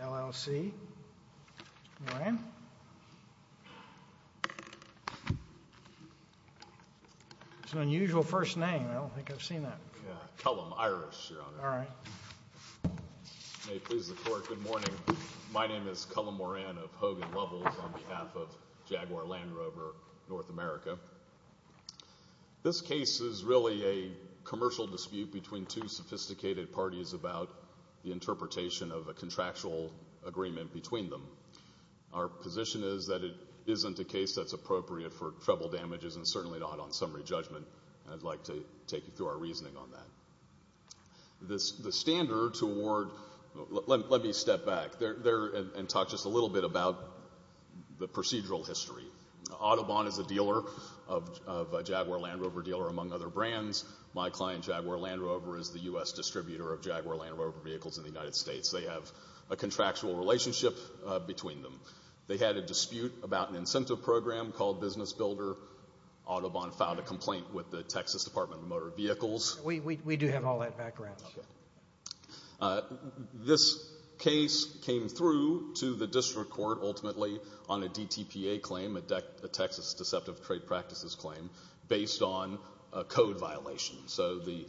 L.L.C., Moran. It's an unusual first name, I don't think I've seen that. Cullum, Irish, your honor. May it please the court, good morning. My name is Cullum Moran of Hogan Lovells on behalf of Jaguar Land Rover North America. This case is really a commercial dispute between two sophisticated parties about the interpretation of a contractual agreement between them. Our position is that it isn't a case that's appropriate for treble damages and certainly not on summary judgment, and I'd like to take you through our reasoning on that. The standard to award, let me step back and talk just a little bit about the procedural history. Audubon is a dealer of Jaguar Land Rover dealer among other brands. My client Jaguar Land Rover is the U.S. distributor of Jaguar Land Rover vehicles in the United States. They have a contractual relationship between them. They had a dispute about an incentive program called Business Builder. Audubon filed a complaint with the Texas Department of Motor Vehicles. We do have all that background. This case came through to the district court ultimately on a DTPA claim, a Texas Deceptive Trade Practices claim, based on a code violation. So the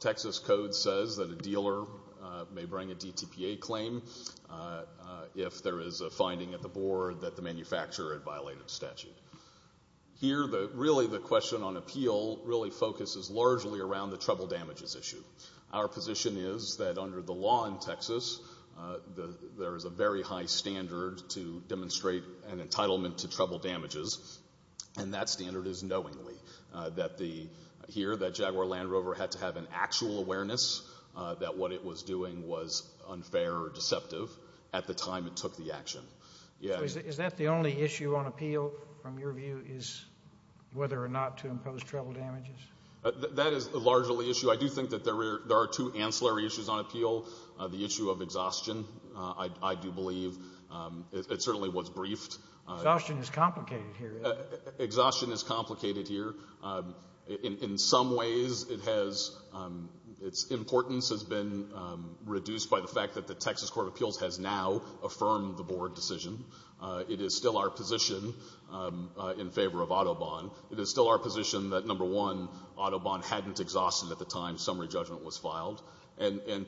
Texas code says that a dealer may bring a DTPA claim if there is a finding at the board that the manufacturer had violated statute. Here, really the question on appeal really focuses largely around the treble damages issue. Our position is that under the law in Texas, there is a very high standard to demonstrate an entitlement to treble damages, and that standard is knowingly. Here, that Jaguar Land Rover had to have an actual awareness that what it was doing was unfair or deceptive at the time it took the action. Is that the only issue on appeal, from your view, is whether or not to impose treble damages? That is largely the issue. I do think that there are two ancillary issues on appeal. The issue of exhaustion, I do believe. It certainly was briefed. Exhaustion is complicated here. In some ways, its importance has been reduced by the fact that the Texas Court of Appeals has now affirmed the board decision. It is still our position in favor of Autobahn. It is still our position that, number one, Autobahn hadn't exhausted at the time summary judgment was filed.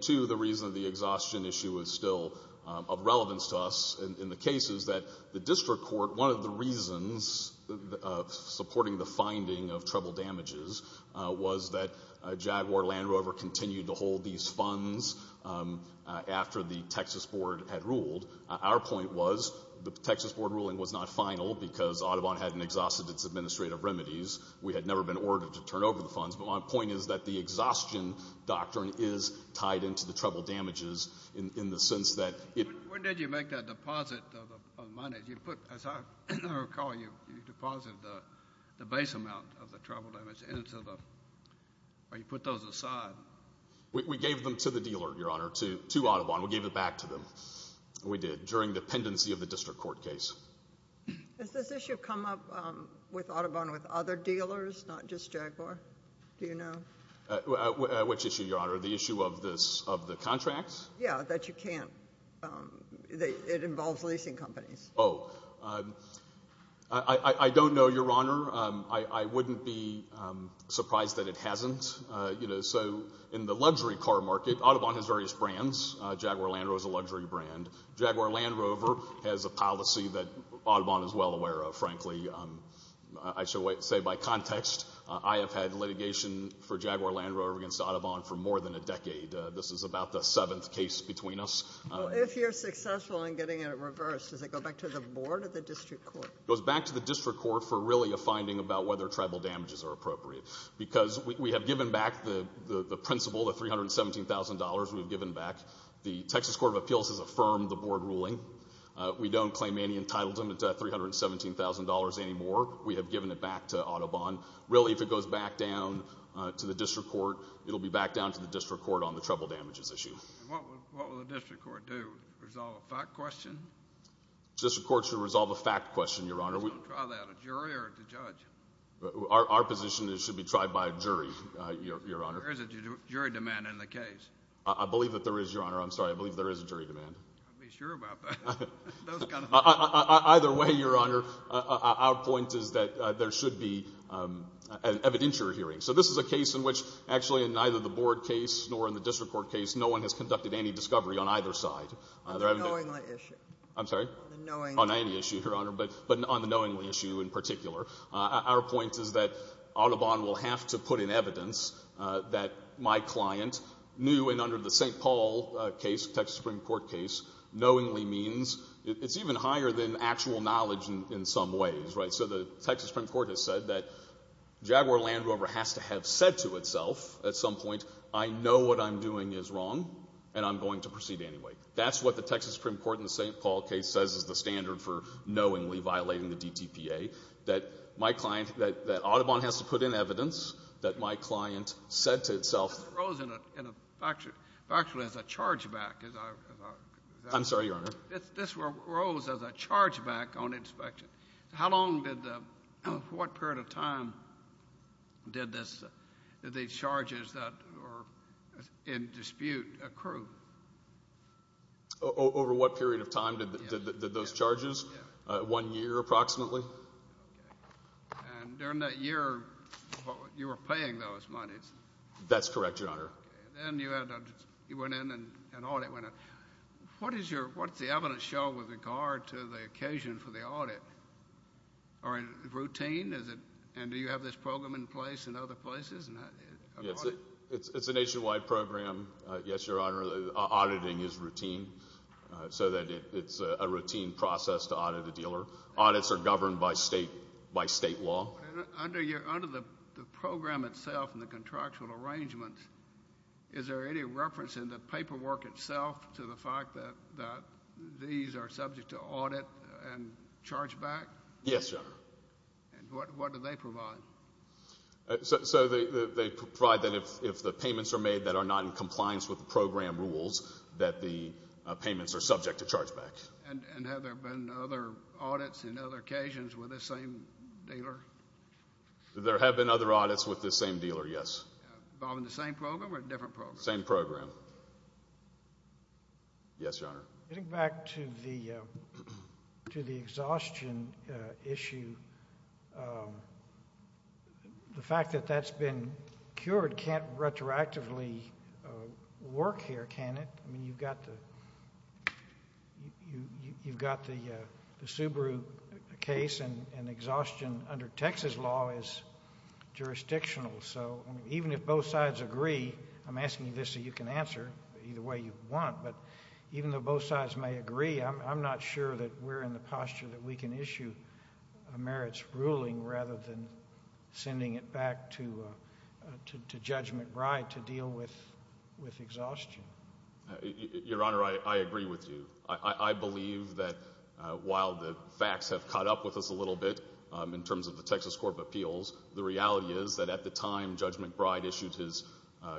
Two, the reason the exhaustion issue is still of relevance to us in the case is that the district court, one of the reasons supporting the finding of treble damages, was that Jaguar Land Rover continued to hold these funds after the Texas board had ruled. Our point was the Texas board ruling was not final because Autobahn hadn't exhausted its administrative remedies. We had never been ordered to turn over the funds, but my point is that the exhaustion doctrine is tied into the treble damages in the sense that it— When did you make that deposit of money? As I recall, you deposited the base amount of the treble damages into the—or you put those aside. We gave them to the dealer, Your Honor, to Autobahn. We gave it back to them. We did, during dependency of the district court case. Has this issue come up with Autobahn with other dealers, not just Jaguar? Do you know? Which issue, Your Honor? The issue of the contracts? Yeah, that you can't—it involves leasing companies. Oh. I don't know, Your Honor. I wouldn't be surprised that it hasn't. So in the luxury car market, Autobahn has various brands. Jaguar Land Rover is a luxury brand. Jaguar Land Rover has a policy that Autobahn is well aware of, frankly. I shall say by context, I have had litigation for Jaguar Land Rover against Autobahn for more than a decade. This is about the seventh case between us. If you're successful in getting it reversed, does it go back to the board or the district court? It goes back to the district court for really a finding about whether treble damages are appropriate because we have given back the principle, the $317,000, we've given back. The Texas Court of Appeals has affirmed the board ruling. We don't claim any entitlement to that $317,000 anymore. We have given it back to Autobahn. Really, if it goes back down to the district court, it'll be back down to the district court on the treble damages issue. What will the district court do? Resolve a fact question? The district court should resolve a fact question, Your Honor. Try that. A jury or the judge? Our position is it should be tried by a jury, Your Honor. There is a jury demand in the case. I believe that there is, Your Honor. I'm sorry. I believe there is a jury demand. I'd be sure about that. Either way, Your Honor, our point is that there should be an evidentiary hearing. So this is a case in which actually in neither the board case nor in the district court case, no one has conducted any discovery on either side. On the knowingly issue. I'm sorry? On the knowingly issue. On any issue, Your Honor, but on the knowingly issue in particular. Our point is that Audubon will have to put in evidence that my client knew and under the St. Paul case, Texas Supreme Court case, knowingly means. It's even higher than actual knowledge in some ways, right? So the Texas Supreme Court has said that Jaguar Land Rover has to have said to itself at some point, I know what I'm doing is wrong and I'm going to proceed anyway. That's what the Texas Supreme Court in the St. Paul case says is the standard for knowingly violating the DTPA, that my client, that Audubon has to put in evidence that my client said to itself. This arose in factually as a chargeback. I'm sorry, Your Honor? This arose as a chargeback on inspection. How long did the, what period of time did these charges that were in dispute accrue? Over what period of time did those charges? One year approximately. And during that year, you were paying those monies. That's correct, Your Honor. Then you went in and an audit went in. What is your, what does the evidence show with regard to the occasion for the audit? Are they routine? And do you have this program in place in other places? It's a nationwide program, yes, Your Honor. Auditing is routine so that it's a routine process to audit a dealer. Audits are governed by state law. Under the program itself and the contractual arrangements, is there any reference in the paperwork itself to the fact that these are subject to audit and chargeback? Yes, Your Honor. And what do they provide? So they provide that if the payments are made that are not in compliance with the program rules, that the payments are subject to chargeback. And have there been other audits and other occasions with this same dealer? There have been other audits with this same dealer, yes. Involving the same program or a different program? Same program. Yes, Your Honor. Getting back to the exhaustion issue, the fact that that's been cured can't retroactively work here, can it? I mean, you've got the Subaru case and exhaustion under Texas law is jurisdictional. So even if both sides agree, I'm asking you this so you can answer either way you want, but even though both sides may agree, I'm not sure that we're in the posture that we can issue a merits ruling rather than sending it back to Judge McBride to deal with exhaustion. Your Honor, I agree with you. I believe that while the facts have caught up with us a little bit in terms of the Texas court of appeals, the reality is that at the time Judge McBride issued his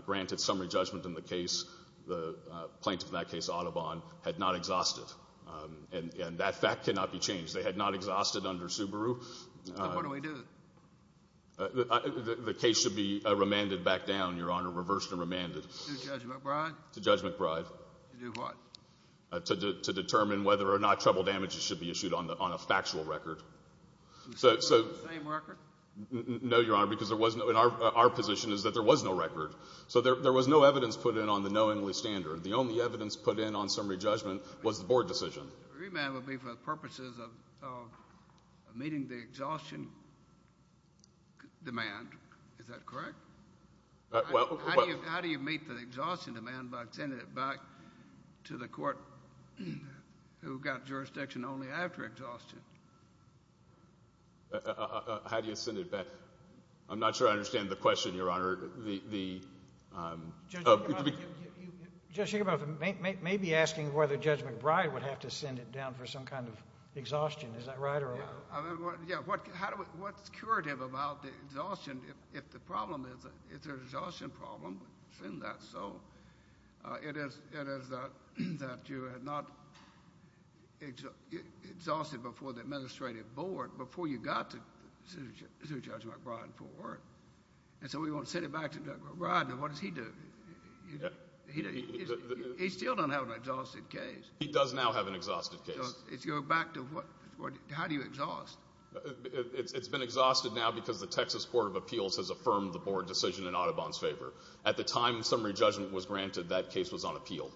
granted summary judgment in the case, the plaintiff in that case, Audubon, had not exhausted. And that fact cannot be changed. They had not exhausted under Subaru. So what do we do? The case should be remanded back down, Your Honor, reversed and remanded. To Judge McBride? To Judge McBride. To do what? To determine whether or not treble damages should be issued on a factual record. So the same record? No, Your Honor, because there was no—and our position is that there was no record. So there was no evidence put in on the knowingly standard. The only evidence put in on summary judgment was the board decision. Remand would be for the purposes of meeting the exhaustion demand. Is that correct? How do you meet the exhaustion demand by sending it back to the court who got jurisdiction only after exhaustion? How do you send it back? I'm not sure I understand the question, Your Honor. The— Judge Shacroff may be asking whether Judge McBride would have to send it down for some kind of exhaustion. Is that right? Yeah. What's curative about the exhaustion? If the problem is an exhaustion problem, send that. So it is that you had not exhausted before the administrative board before you got to Judge McBride for it. And so we won't send it back to Judge McBride. Now, what does he do? He still doesn't have an exhausted case. He does now have an exhausted case. If you go back to what—how do you exhaust? It's been exhausted now because the Texas Court of Appeals has affirmed the board decision in Audubon's favor. At the time summary judgment was granted, that case was unappealed.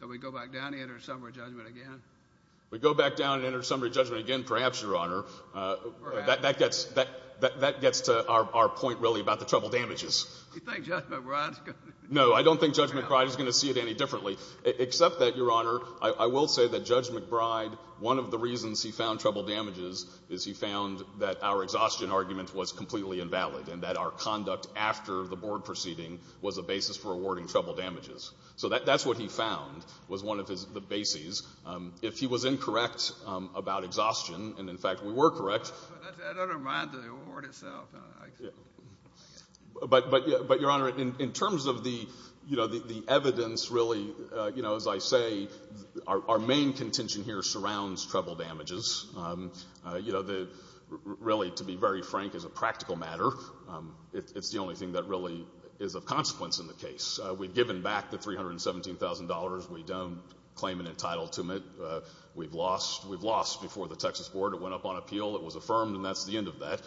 So we go back down and enter summary judgment again? We go back down and enter summary judgment again, perhaps, Your Honor. Perhaps. That gets to our point, really, about the trouble damages. You think Judge McBride is going to— No, I don't think Judge McBride is going to see it any differently, except that, Your Honor, I will say that Judge McBride, one of the reasons he found trouble damages is he found that our exhaustion argument was completely invalid and that our conduct after the board proceeding was a basis for awarding trouble damages. So that's what he found was one of the bases. If he was incorrect about exhaustion, and, in fact, we were correct— I don't mind the award itself. But, Your Honor, in terms of the evidence, really, as I say, our main contention here surrounds trouble damages. Really, to be very frank, as a practical matter, it's the only thing that really is of consequence in the case. We've given back the $317,000. We don't claim an entitlement. We've lost. We've lost before the Texas court. It went up on appeal. It was affirmed, and that's the end of that.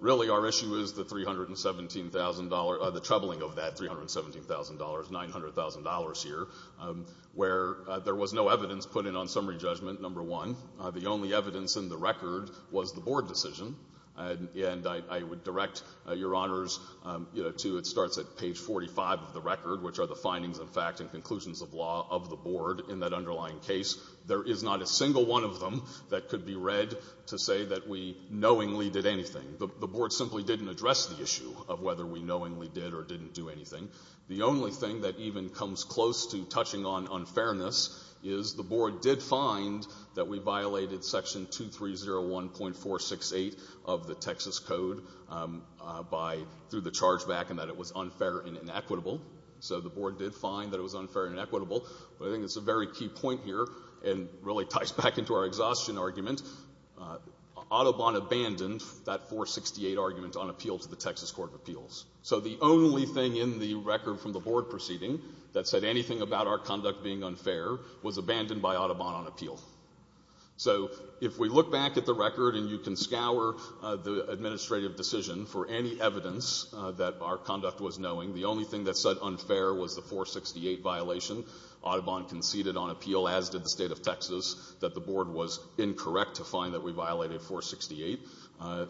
Really, our issue is the $317,000—the troubling of that $317,000, $900,000 here, where there was no evidence put in on summary judgment, number one. The only evidence in the record was the board decision. And I would direct Your Honors to—it starts at page 45 of the record, which are the findings and facts and conclusions of law of the board in that underlying case. There is not a single one of them that could be read to say that we knowingly did anything. The board simply didn't address the issue of whether we knowingly did or didn't do anything. The only thing that even comes close to touching on unfairness is the board did find that we violated Section 2301.468 of the Texas Code through the charge back and that it was unfair and inequitable. So the board did find that it was unfair and inequitable. But I think it's a very key point here and really ties back into our exhaustion argument. Audubon abandoned that 468 argument on appeal to the Texas Court of Appeals. So the only thing in the record from the board proceeding that said anything about our conduct being unfair was abandoned by Audubon on appeal. So if we look back at the record and you can scour the administrative decision for any evidence that our conduct was knowing, the only thing that said unfair was the 468 violation. Audubon conceded on appeal, as did the State of Texas, that the board was incorrect to find that we violated 468.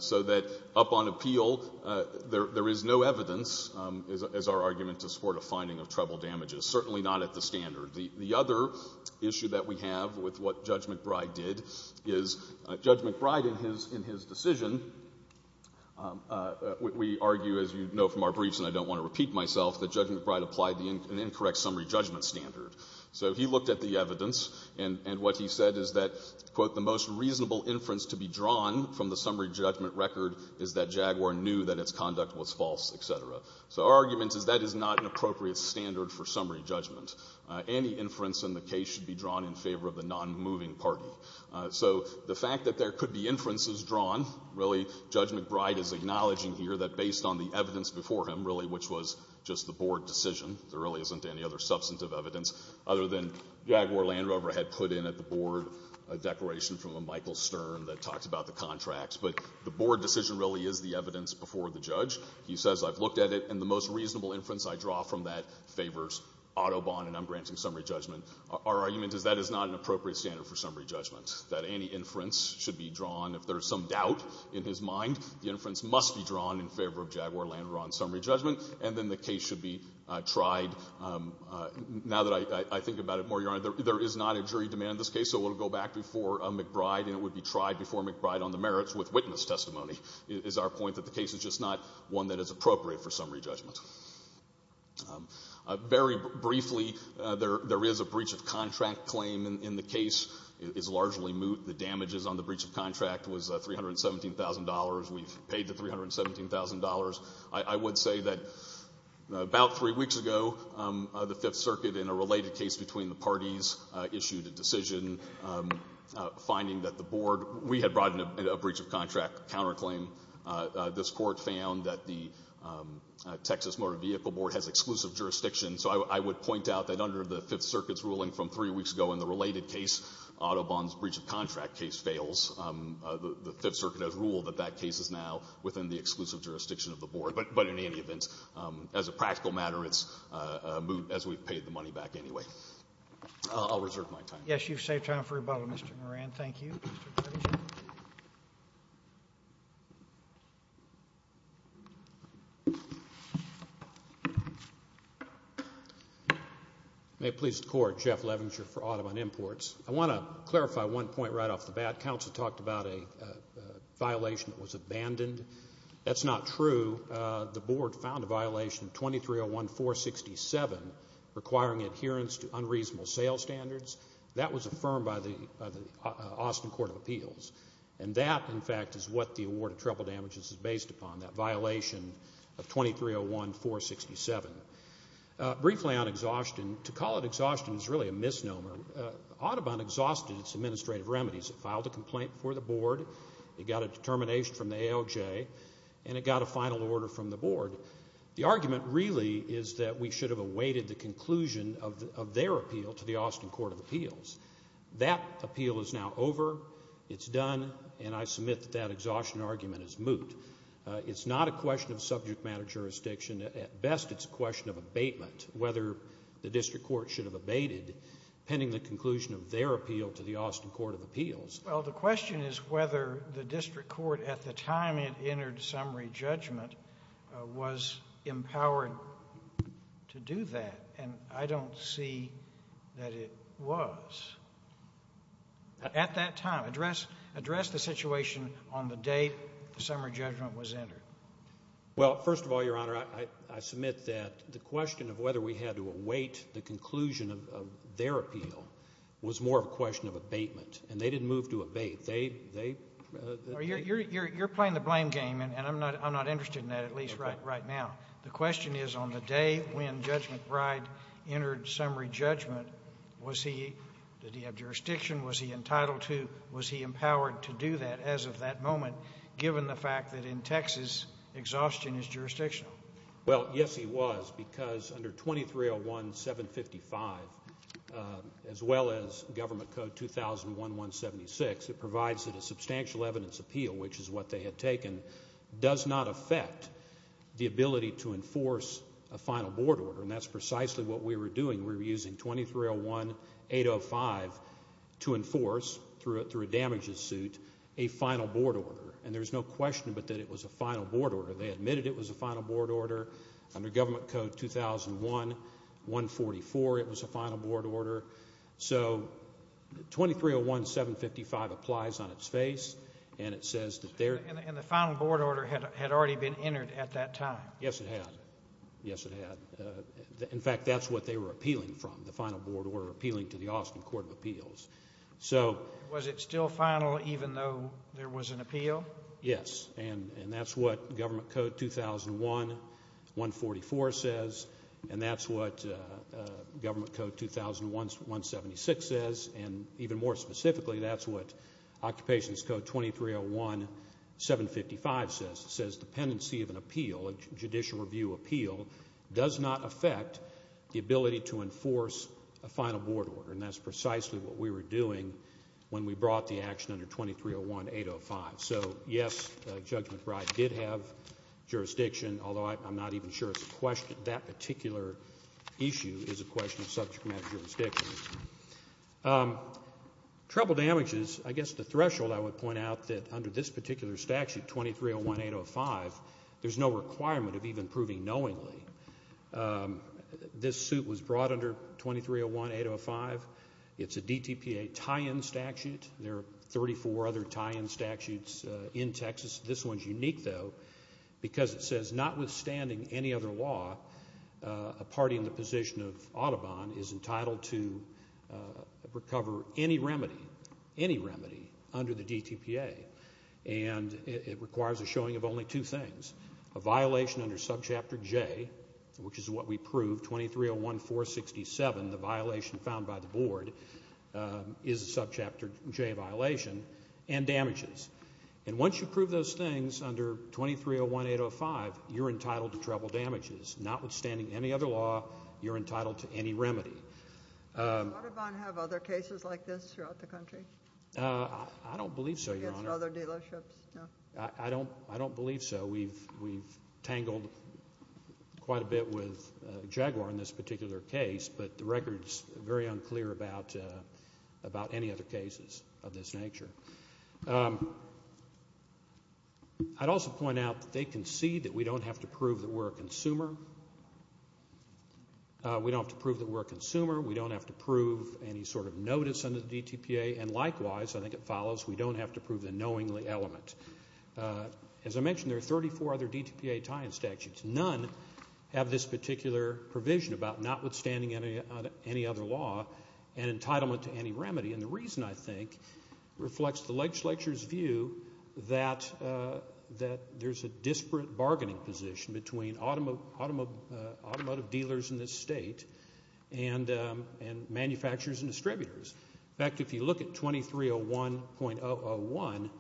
So that up on appeal, there is no evidence, is our argument, to support a finding of treble damages. Certainly not at the standard. The other issue that we have with what Judge McBride did is Judge McBride in his decision, we argue, as you know from our briefs and I don't want to repeat myself, that Judge McBride applied an incorrect summary judgment standard. So he looked at the evidence and what he said is that, quote, the most reasonable inference to be drawn from the summary judgment record is that Jaguar knew that its conduct was false, etc. So our argument is that is not an appropriate standard for summary judgment. Any inference in the case should be drawn in favor of the non-moving party. So the fact that there could be inferences drawn, really, Judge McBride is acknowledging here that based on the evidence before him, really, which was just the board decision, there really isn't any other substantive evidence, other than Jaguar Land Rover had put in at the board a declaration from a Michael Stern that talked about the contracts. But the board decision really is the evidence before the judge. He says I've looked at it and the most reasonable inference I draw from that favors Audubon and I'm granting summary judgment. Our argument is that is not an appropriate standard for summary judgment, that any inference should be drawn. If there is some doubt in his mind, the inference must be drawn in favor of Jaguar Land Rover on summary judgment, and then the case should be tried. Now that I think about it more, Your Honor, there is not a jury demand in this case, so it will go back before McBride and it would be tried before McBride on the merits with witness testimony, is our point that the case is just not one that is appropriate for summary judgment. Very briefly, there is a breach of contract claim in the case. It is largely moot. The damages on the breach of contract was $317,000. We've paid the $317,000. I would say that about three weeks ago, the Fifth Circuit, in a related case between the parties, issued a decision finding that the board, we had brought in a breach of contract counterclaim. This court found that the Texas Motor Vehicle Board has exclusive jurisdiction. So I would point out that under the Fifth Circuit's ruling from three weeks ago in the related case, Autobahn's breach of contract case fails. The Fifth Circuit has ruled that that case is now within the exclusive jurisdiction of the board. But in any event, as a practical matter, it's moot, as we've paid the money back anyway. I'll reserve my time. Yes, you've saved time for rebuttal, Mr. Moran. Thank you. Thank you. May it please the Court, Jeff Levinger for Autobahn Imports. I want to clarify one point right off the bat. Counsel talked about a violation that was abandoned. That's not true. The board found a violation 2301467 requiring adherence to unreasonable sales standards. That was affirmed by the Austin Court of Appeals. And that, in fact, is what the award of treble damages is based upon, that violation of 2301467. Briefly on exhaustion, to call it exhaustion is really a misnomer. Autobahn exhausted its administrative remedies. It filed a complaint before the board. It got a determination from the ALJ. And it got a final order from the board. The argument really is that we should have awaited the conclusion of their appeal to the Austin Court of Appeals. That appeal is now over. It's done. And I submit that that exhaustion argument is moot. It's not a question of subject matter jurisdiction. At best, it's a question of abatement, whether the district court should have abated pending the conclusion of their appeal to the Austin Court of Appeals. Well, the question is whether the district court, at the time it entered summary judgment, was empowered to do that. And I don't see that it was. At that time, address the situation on the day the summary judgment was entered. Well, first of all, Your Honor, I submit that the question of whether we had to await the conclusion of their appeal was more of a question of abatement. And they didn't move to abate. You're playing the blame game, and I'm not interested in that, at least right now. The question is on the day when Judge McBride entered summary judgment, was he – did he have jurisdiction? Was he entitled to – was he empowered to do that as of that moment, given the fact that in Texas, exhaustion is jurisdictional? Well, yes, he was, because under 2301.755, as well as Government Code 2001.176, it provides that a substantial evidence appeal, which is what they had taken, does not affect the ability to enforce a final board order. And that's precisely what we were doing. We were using 2301.805 to enforce, through a damages suit, a final board order. And there's no question but that it was a final board order. They admitted it was a final board order. Under Government Code 2001.144, it was a final board order. So 2301.755 applies on its face, and it says that they're – And the final board order had already been entered at that time. Yes, it had. Yes, it had. In fact, that's what they were appealing from, the final board order, appealing to the Austin Court of Appeals. So – Was it still final even though there was an appeal? Yes, and that's what Government Code 2001.144 says, and that's what Government Code 2001.176 says, and even more specifically, that's what Occupations Code 2301.755 says. It says dependency of an appeal, a judicial review appeal, does not affect the ability to enforce a final board order. And that's precisely what we were doing when we brought the action under 2301.805. So, yes, Judge McBride did have jurisdiction, although I'm not even sure that particular issue is a question of subject matter jurisdiction. Trouble damages, I guess the threshold I would point out that under this particular statute, 2301.805, there's no requirement of even proving knowingly. This suit was brought under 2301.805. It's a DTPA tie-in statute. There are 34 other tie-in statutes in Texas. This one's unique, though, because it says notwithstanding any other law, a party in the position of Audubon is entitled to recover any remedy, any remedy under the DTPA, and it requires a showing of only two things, a violation under Subchapter J, which is what we proved, 2301.467, the violation found by the board is a Subchapter J violation, and damages. And once you prove those things under 2301.805, you're entitled to trouble damages. Notwithstanding any other law, you're entitled to any remedy. Does Audubon have other cases like this throughout the country? I don't believe so, Your Honor. Other dealerships? I don't believe so. We've tangled quite a bit with Jaguar in this particular case, but the record's very unclear about any other cases of this nature. I'd also point out that they concede that we don't have to prove that we're a consumer. We don't have to prove that we're a consumer. We don't have to prove any sort of notice under the DTPA. And likewise, I think it follows, we don't have to prove the knowingly element. As I mentioned, there are 34 other DTPA tie-in statutes. None have this particular provision about notwithstanding any other law, an entitlement to any remedy. And the reason, I think, reflects the legislature's view that there's a disparate bargaining position between automotive dealers in this state and manufacturers and distributors. In fact, if you look at 2301.001,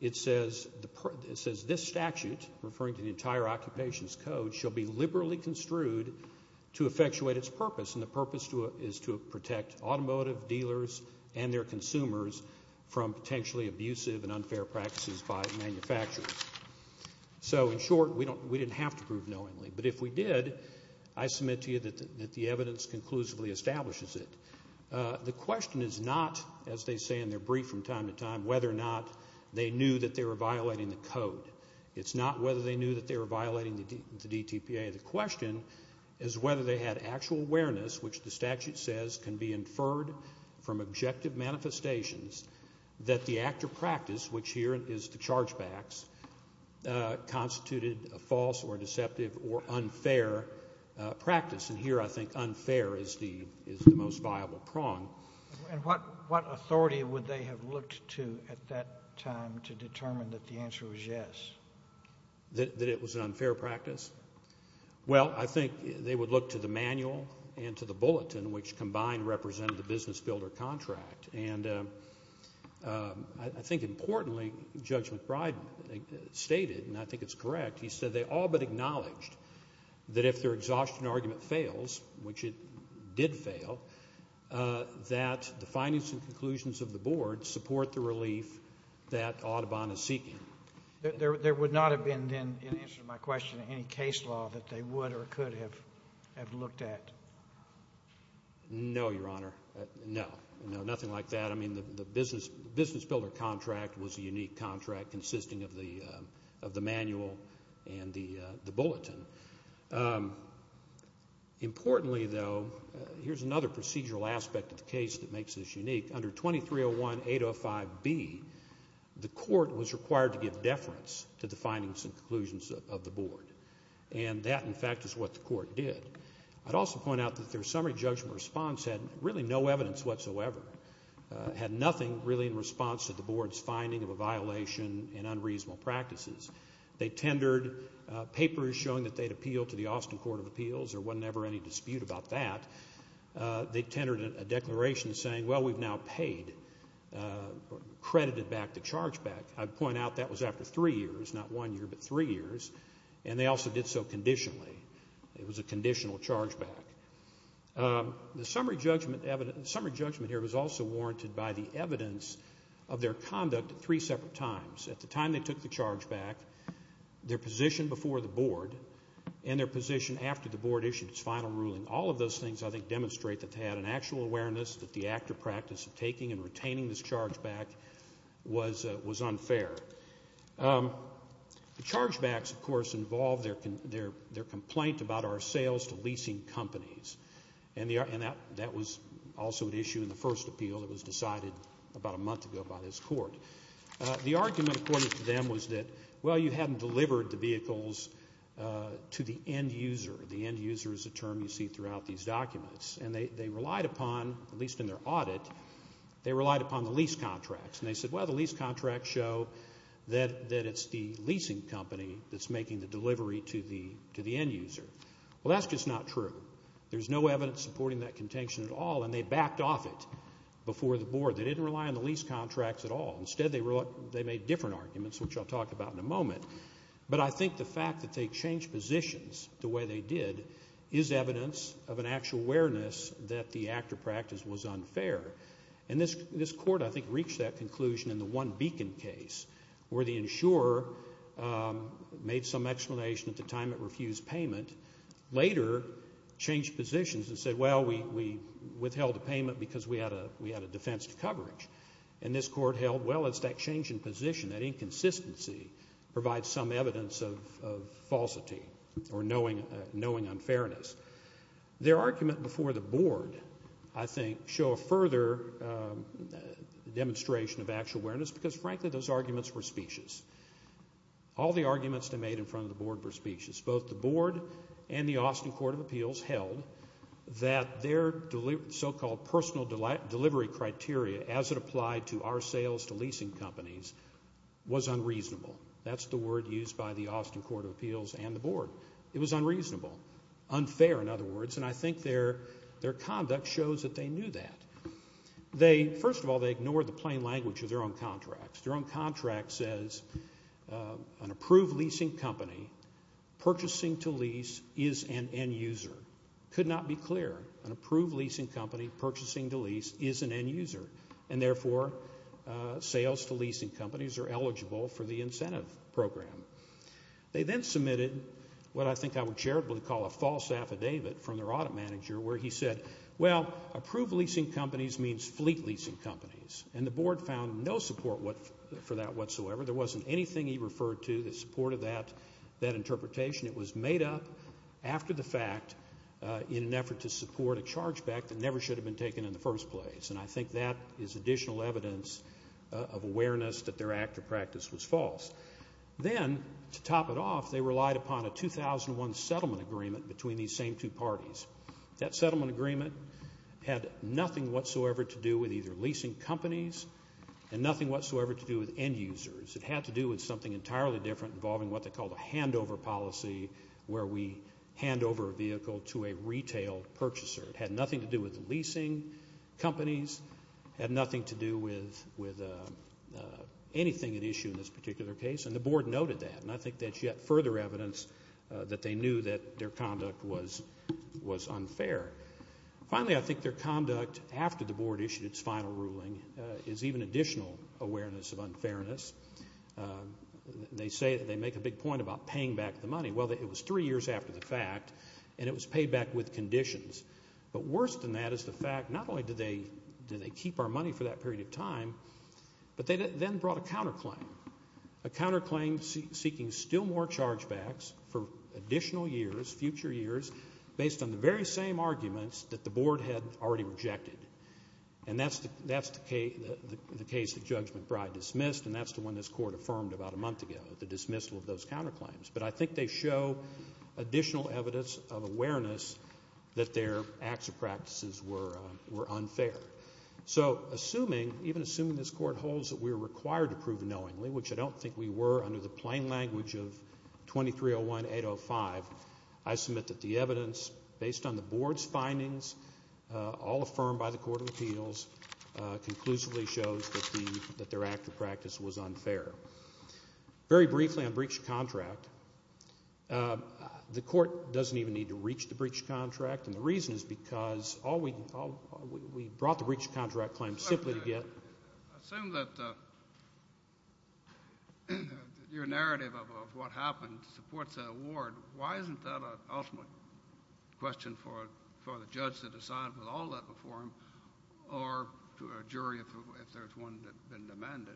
it says, this statute, referring to the entire occupation's code, shall be liberally construed to effectuate its purpose, and the purpose is to protect automotive dealers and their consumers from potentially abusive and unfair practices by manufacturers. So, in short, we didn't have to prove knowingly. But if we did, I submit to you that the evidence conclusively establishes it. The question is not, as they say in their brief from time to time, whether or not they knew that they were violating the code. It's not whether they knew that they were violating the DTPA. The question is whether they had actual awareness, which the statute says can be inferred from objective manifestations, that the act of practice, which here is the charge backs, constituted a false or deceptive or unfair practice. And here I think unfair is the most viable prong. And what authority would they have looked to at that time to determine that the answer was yes? That it was an unfair practice? Well, I think they would look to the manual and to the bulletin, which combined represented the business builder contract. And I think importantly, Judge McBride stated, and I think it's correct, he said they all but acknowledged that if their exhaustion argument fails, which it did fail, that the findings and conclusions of the board support the relief that Audubon is seeking. There would not have been then, in answer to my question, any case law that they would or could have looked at? No, Your Honor, no. Nothing like that. I mean the business builder contract was a unique contract consisting of the manual and the bulletin. Importantly, though, here's another procedural aspect of the case that makes this unique. Under 2301-805-B, the court was required to give deference to the findings and conclusions of the board. And that, in fact, is what the court did. I'd also point out that their summary judgment response had really no evidence whatsoever, had nothing really in response to the board's finding of a violation in unreasonable practices. They tendered papers showing that they'd appeal to the Austin Court of Appeals. There was never any dispute about that. They tendered a declaration saying, well, we've now paid, credited back the charge back. I'd point out that was after three years, not one year, but three years, and they also did so conditionally. It was a conditional charge back. The summary judgment here was also warranted by the evidence of their conduct at three separate times. At the time they took the charge back, their position before the board, and their position after the board issued its final ruling, all of those things I think demonstrate that they had an actual awareness that the actor practice of taking and retaining this charge back was unfair. The charge backs, of course, involved their complaint about our sales to leasing companies. And that was also an issue in the first appeal that was decided about a month ago by this court. The argument according to them was that, well, you hadn't delivered the vehicles to the end user. The end user is a term you see throughout these documents. And they relied upon, at least in their audit, they relied upon the lease contracts. And they said, well, the lease contracts show that it's the leasing company that's making the delivery to the end user. Well, that's just not true. There's no evidence supporting that contention at all, and they backed off it before the board. They didn't rely on the lease contracts at all. Instead, they made different arguments, which I'll talk about in a moment. But I think the fact that they changed positions the way they did is evidence of an actual awareness that the actor practice was unfair. And this court, I think, reached that conclusion in the One Beacon case where the insurer made some explanation at the time it refused payment, later changed positions and said, well, we withheld the payment because we had a defense coverage. And this court held, well, it's that change in position, that inconsistency, provides some evidence of falsity or knowing unfairness. Their argument before the board, I think, show a further demonstration of actual awareness because, frankly, those arguments were specious. All the arguments they made in front of the board were specious. Both the board and the Austin Court of Appeals held that their so-called personal delivery criteria as it applied to our sales to leasing companies was unreasonable. That's the word used by the Austin Court of Appeals and the board. It was unreasonable, unfair in other words, and I think their conduct shows that they knew that. First of all, they ignored the plain language of their own contracts. Their own contract says an approved leasing company purchasing to lease is an end user. It could not be clearer. An approved leasing company purchasing to lease is an end user, and therefore sales to leasing companies are eligible for the incentive program. They then submitted what I think I would charitably call a false affidavit from their audit manager where he said, well, approved leasing companies means fleet leasing companies, and the board found no support for that whatsoever. There wasn't anything he referred to that supported that interpretation. It was made up after the fact in an effort to support a charge back that never should have been taken in the first place, and I think that is additional evidence of awareness that their active practice was false. Then, to top it off, they relied upon a 2001 settlement agreement between these same two parties. That settlement agreement had nothing whatsoever to do with either leasing companies and nothing whatsoever to do with end users. It had to do with something entirely different involving what they called a handover policy where we hand over a vehicle to a retail purchaser. It had nothing to do with leasing companies. It had nothing to do with anything at issue in this particular case, and the board noted that, and I think that's yet further evidence that they knew that their conduct was unfair. Finally, I think their conduct after the board issued its final ruling is even additional awareness of unfairness. They say that they make a big point about paying back the money. Well, it was three years after the fact, and it was paid back with conditions, but worse than that is the fact not only do they keep our money for that period of time, but they then brought a counterclaim, a counterclaim seeking still more chargebacks for additional years, future years, based on the very same arguments that the board had already rejected, and that's the case that Judge McBride dismissed, and that's the one this court affirmed about a month ago, the dismissal of those counterclaims, but I think they show additional evidence of awareness that their acts of practices were unfair. So assuming, even assuming this court holds that we're required to prove knowingly, which I don't think we were under the plain language of 2301-805, I submit that the evidence based on the board's findings, all affirmed by the court of appeals, conclusively shows that their act of practice was unfair. Very briefly on breach of contract, the court doesn't even need to reach the breach of contract, and the reason is because we brought the breach of contract claim simply to get. I assume that your narrative of what happened supports that award. Why isn't that an ultimate question for the judge to decide with all that before him or to a jury if there's one that's been demanded?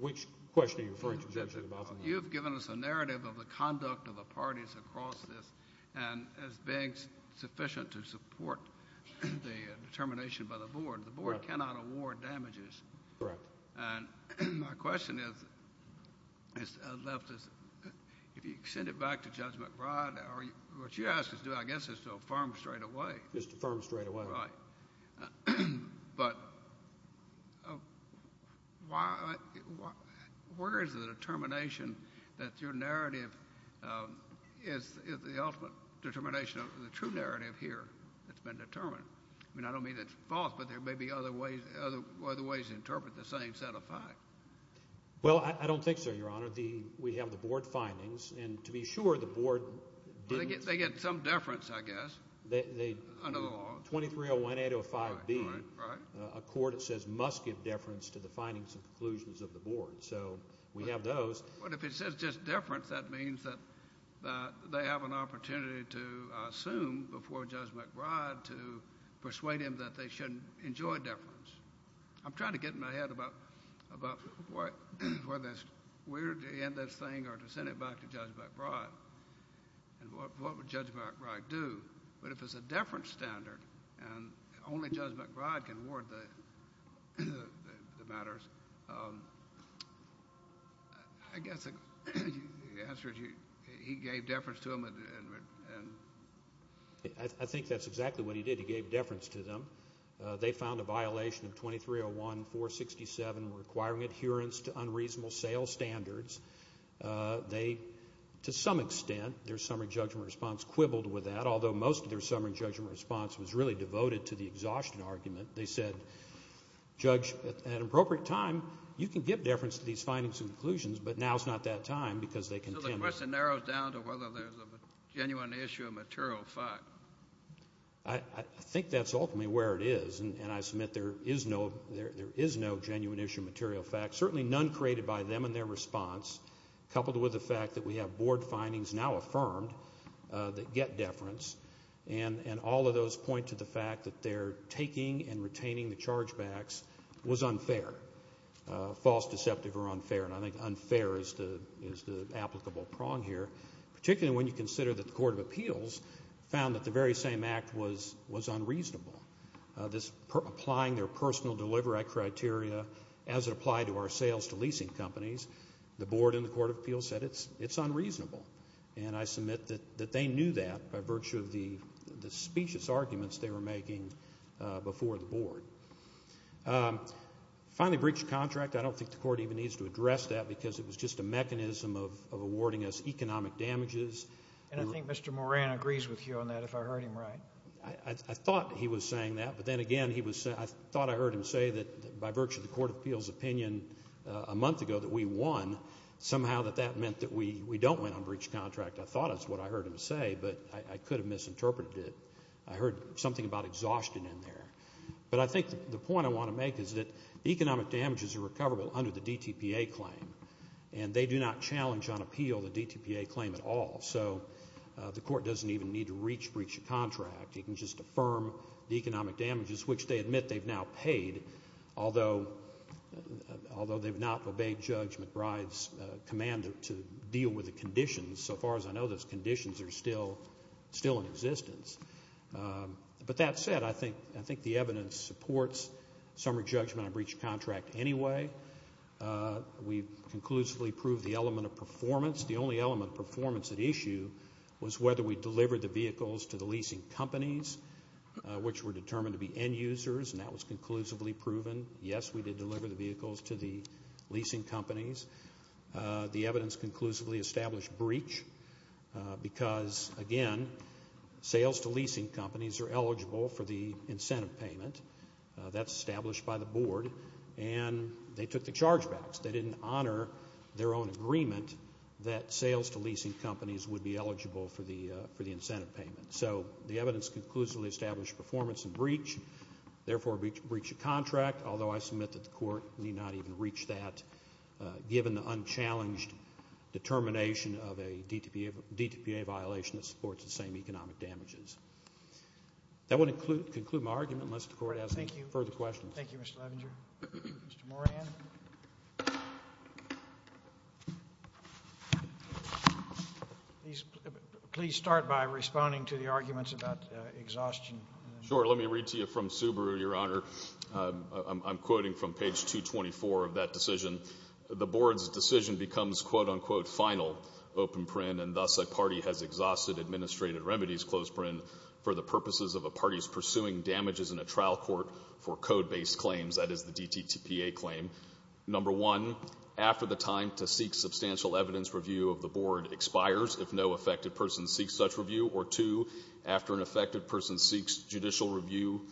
Which question are you referring to, Judge McBride? You have given us a narrative of the conduct of the parties across this, and as being sufficient to support the determination by the board. The board cannot award damages. Correct. And my question is, if you send it back to Judge McBride, what she asks us to do, I guess, is to affirm straightaway. Just affirm straightaway. Right. But where is the determination that your narrative is the ultimate determination of the true narrative here that's been determined? I mean, I don't mean it's false, but there may be other ways to interpret the same set of facts. Well, I don't think so, Your Honor. We have the board findings, and to be sure, the board didn't— They get some deference, I guess, under the law. 2301-805-B, a court says must give deference to the findings and conclusions of the board. So we have those. But if it says just deference, that means that they have an opportunity to assume before Judge McBride to persuade him that they shouldn't enjoy deference. I'm trying to get in my head about whether it's weird to end this thing or to send it back to Judge McBride and what would Judge McBride do. But if it's a deference standard and only Judge McBride can award the matters, I guess the answer is he gave deference to them. I think that's exactly what he did. He gave deference to them. They found a violation of 2301-467 requiring adherence to unreasonable sales standards. They, to some extent, their summary judgment response quibbled with that, although most of their summary judgment response was really devoted to the exhaustion argument. They said, Judge, at an appropriate time, you can give deference to these findings and conclusions, but now is not that time because they contended— So the question narrows down to whether there's a genuine issue of material fact. I think that's ultimately where it is, and I submit there is no genuine issue of material fact. Certainly none created by them in their response, coupled with the fact that we have board findings now affirmed that get deference, and all of those point to the fact that their taking and retaining the chargebacks was unfair, false, deceptive, or unfair. And I think unfair is the applicable prong here, particularly when you consider that the Court of Appeals found that the very same act was unreasonable. This applying their personal delivery criteria as it applied to our sales to leasing companies, the board in the Court of Appeals said it's unreasonable, and I submit that they knew that by virtue of the specious arguments they were making before the board. Finally, breach of contract, I don't think the court even needs to address that because it was just a mechanism of awarding us economic damages. And I think Mr. Moran agrees with you on that, if I heard him right. I thought he was saying that, but then again, I thought I heard him say that by virtue of the Court of Appeals' opinion a month ago that we won, somehow that that meant that we don't win on breach of contract. I thought that's what I heard him say, but I could have misinterpreted it. I heard something about exhaustion in there. But I think the point I want to make is that economic damages are recoverable under the DTPA claim, and they do not challenge on appeal the DTPA claim at all. So the court doesn't even need to reach breach of contract. It can just affirm the economic damages, which they admit they've now paid, although they've not obeyed Judge McBride's command to deal with the conditions. So far as I know, those conditions are still in existence. But that said, I think the evidence supports summary judgment on breach of contract anyway. We conclusively proved the element of performance. The only element of performance at issue was whether we delivered the vehicles to the leasing companies, which were determined to be end users, and that was conclusively proven. Yes, we did deliver the vehicles to the leasing companies. The evidence conclusively established breach because, again, sales to leasing companies are eligible for the incentive payment. That's established by the board, and they took the charge backs. They didn't honor their own agreement that sales to leasing companies would be eligible for the incentive payment. So the evidence conclusively established performance and breach, therefore breach of contract, although I submit that the court need not even reach that, given the unchallenged determination of a DTPA violation that supports the same economic damages. That would conclude my argument, unless the court has any further questions. Thank you. Thank you, Mr. Levinger. Mr. Moran. Please start by responding to the arguments about exhaustion. Sure. Let me read to you from Subaru, Your Honor. I'm quoting from page 224 of that decision. The board's decision becomes, quote, unquote, final, open print, and thus a party has exhausted administrative remedies, close print, for the purposes of a party's pursuing damages in a trial court for code-based claims. That is the DTPA claim. Number one, after the time to seek substantial evidence review of the board expires if no affected person seeks such review, or two, after an affected person who seeks judicial review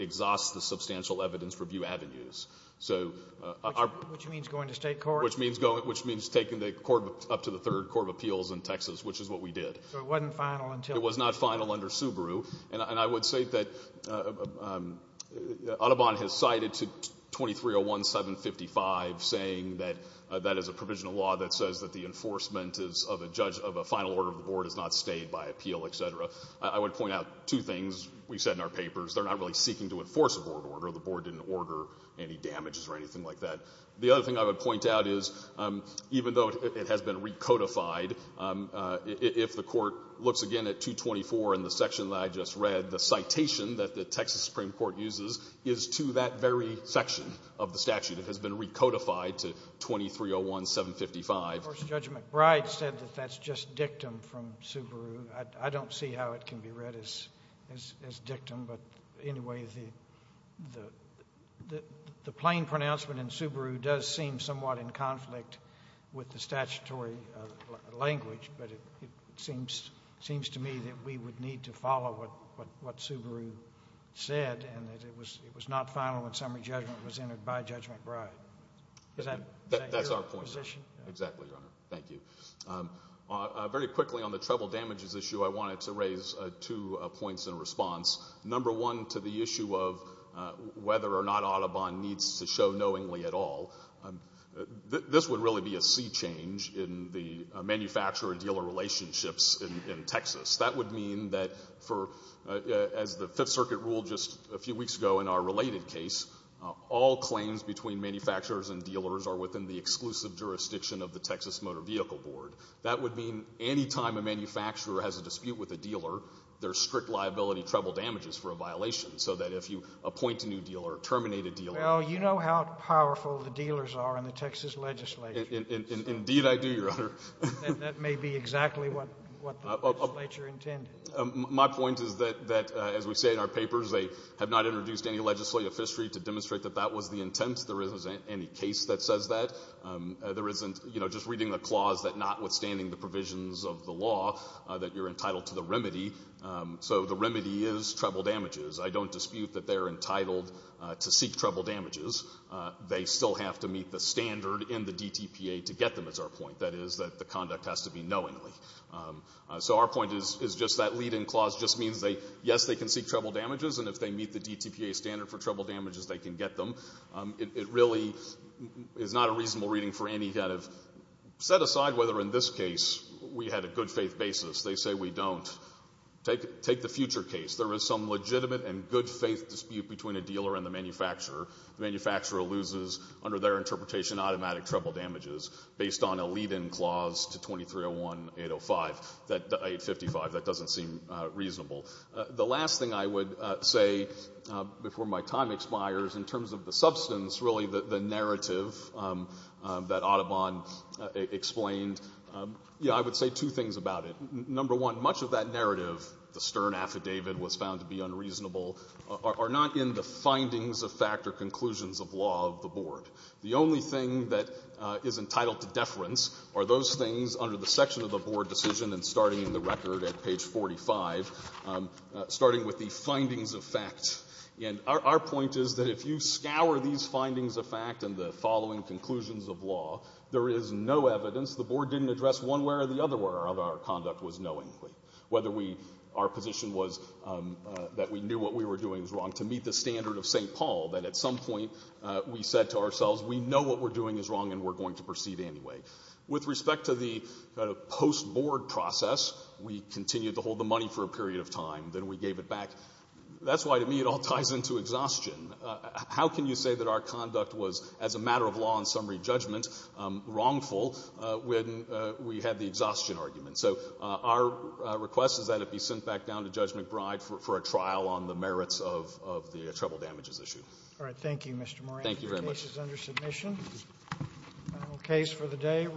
exhausts the substantial evidence review avenues. Which means going to state court? Which means taking the court up to the Third Court of Appeals in Texas, which is what we did. So it wasn't final until? It was not final under Subaru. And I would say that Audubon has cited 2301755, saying that that is a provisional law that says that the enforcement of a final order of the board is not stayed by appeal, etc. I would point out two things we said in our papers. They're not really seeking to enforce a board order. The board didn't order any damages or anything like that. The other thing I would point out is even though it has been recodified, if the court looks again at 224 in the section that I just read, the citation that the Texas Supreme Court uses is to that very section of the statute. It has been recodified to 2301755. Of course, Judge McBride said that that's just dictum from Subaru. I don't see how it can be read as dictum. But anyway, the plain pronouncement in Subaru does seem somewhat in conflict with the statutory language. But it seems to me that we would need to follow what Subaru said and that it was not final when summary judgment was entered by Judge McBride. Is that your position? That's our point, sir. Exactly, Your Honor. Thank you. Very quickly on the treble damages issue, I wanted to raise two points in response. Number one, to the issue of whether or not Audubon needs to show knowingly at all. This would really be a sea change in the manufacturer-dealer relationships in Texas. That would mean that for, as the Fifth Circuit ruled just a few weeks ago in our related case, all claims between manufacturers and dealers are within the exclusive jurisdiction of the Texas Motor Vehicle Board. That would mean any time a manufacturer has a dispute with a dealer, there's strict liability treble damages for a violation so that if you appoint a new dealer or terminate a dealer. Well, you know how powerful the dealers are in the Texas legislature. Indeed I do, Your Honor. And that may be exactly what the legislature intended. My point is that, as we say in our papers, they have not introduced any legislative history to demonstrate that that was the intent. There isn't any case that says that. There isn't just reading the clause that notwithstanding the provisions of the law that you're entitled to the remedy. So the remedy is treble damages. I don't dispute that they're entitled to seek treble damages. They still have to meet the standard in the DTPA to get them, is our point. That is that the conduct has to be knowingly. So our point is just that lead-in clause just means they, yes, they can seek treble damages, and if they meet the DTPA standard for treble damages, they can get them. It really is not a reasonable reading for any kind of set aside whether in this case we had a good-faith basis. They say we don't. Take the future case. There is some legitimate and good-faith dispute between a dealer and the manufacturer. The manufacturer loses, under their interpretation, automatic treble damages based on a lead-in clause to 2301.805. The 855, that doesn't seem reasonable. The last thing I would say before my time expires in terms of the substance, really, the narrative that Audubon explained, yes, I would say two things about it. Number one, much of that narrative, the stern affidavit was found to be unreasonable, are not in the findings of fact or conclusions of law of the Board. The only thing that is entitled to deference are those things under the section of the Board decision and starting in the record at page 45, starting with the findings of fact. And our point is that if you scour these findings of fact and the following conclusions of law, there is no evidence the Board didn't address one way or the other way our conduct was knowingly. Whether our position was that we knew what we were doing was wrong, to meet the standard of St. Paul, that at some point we said to ourselves, we know what we're doing is wrong and we're going to proceed anyway. With respect to the post-Board process, we continued to hold the money for a period of time, then we gave it back. That's why, to me, it all ties into exhaustion. How can you say that our conduct was, as a matter of law and summary judgment, wrongful when we had the exhaustion argument? So our request is that it be sent back down to Judge McBride for a trial on the merits of the treble damages issue. All right. Thank you, Mr. Moran. Thank you very much. The case is under submission. Final case for the day.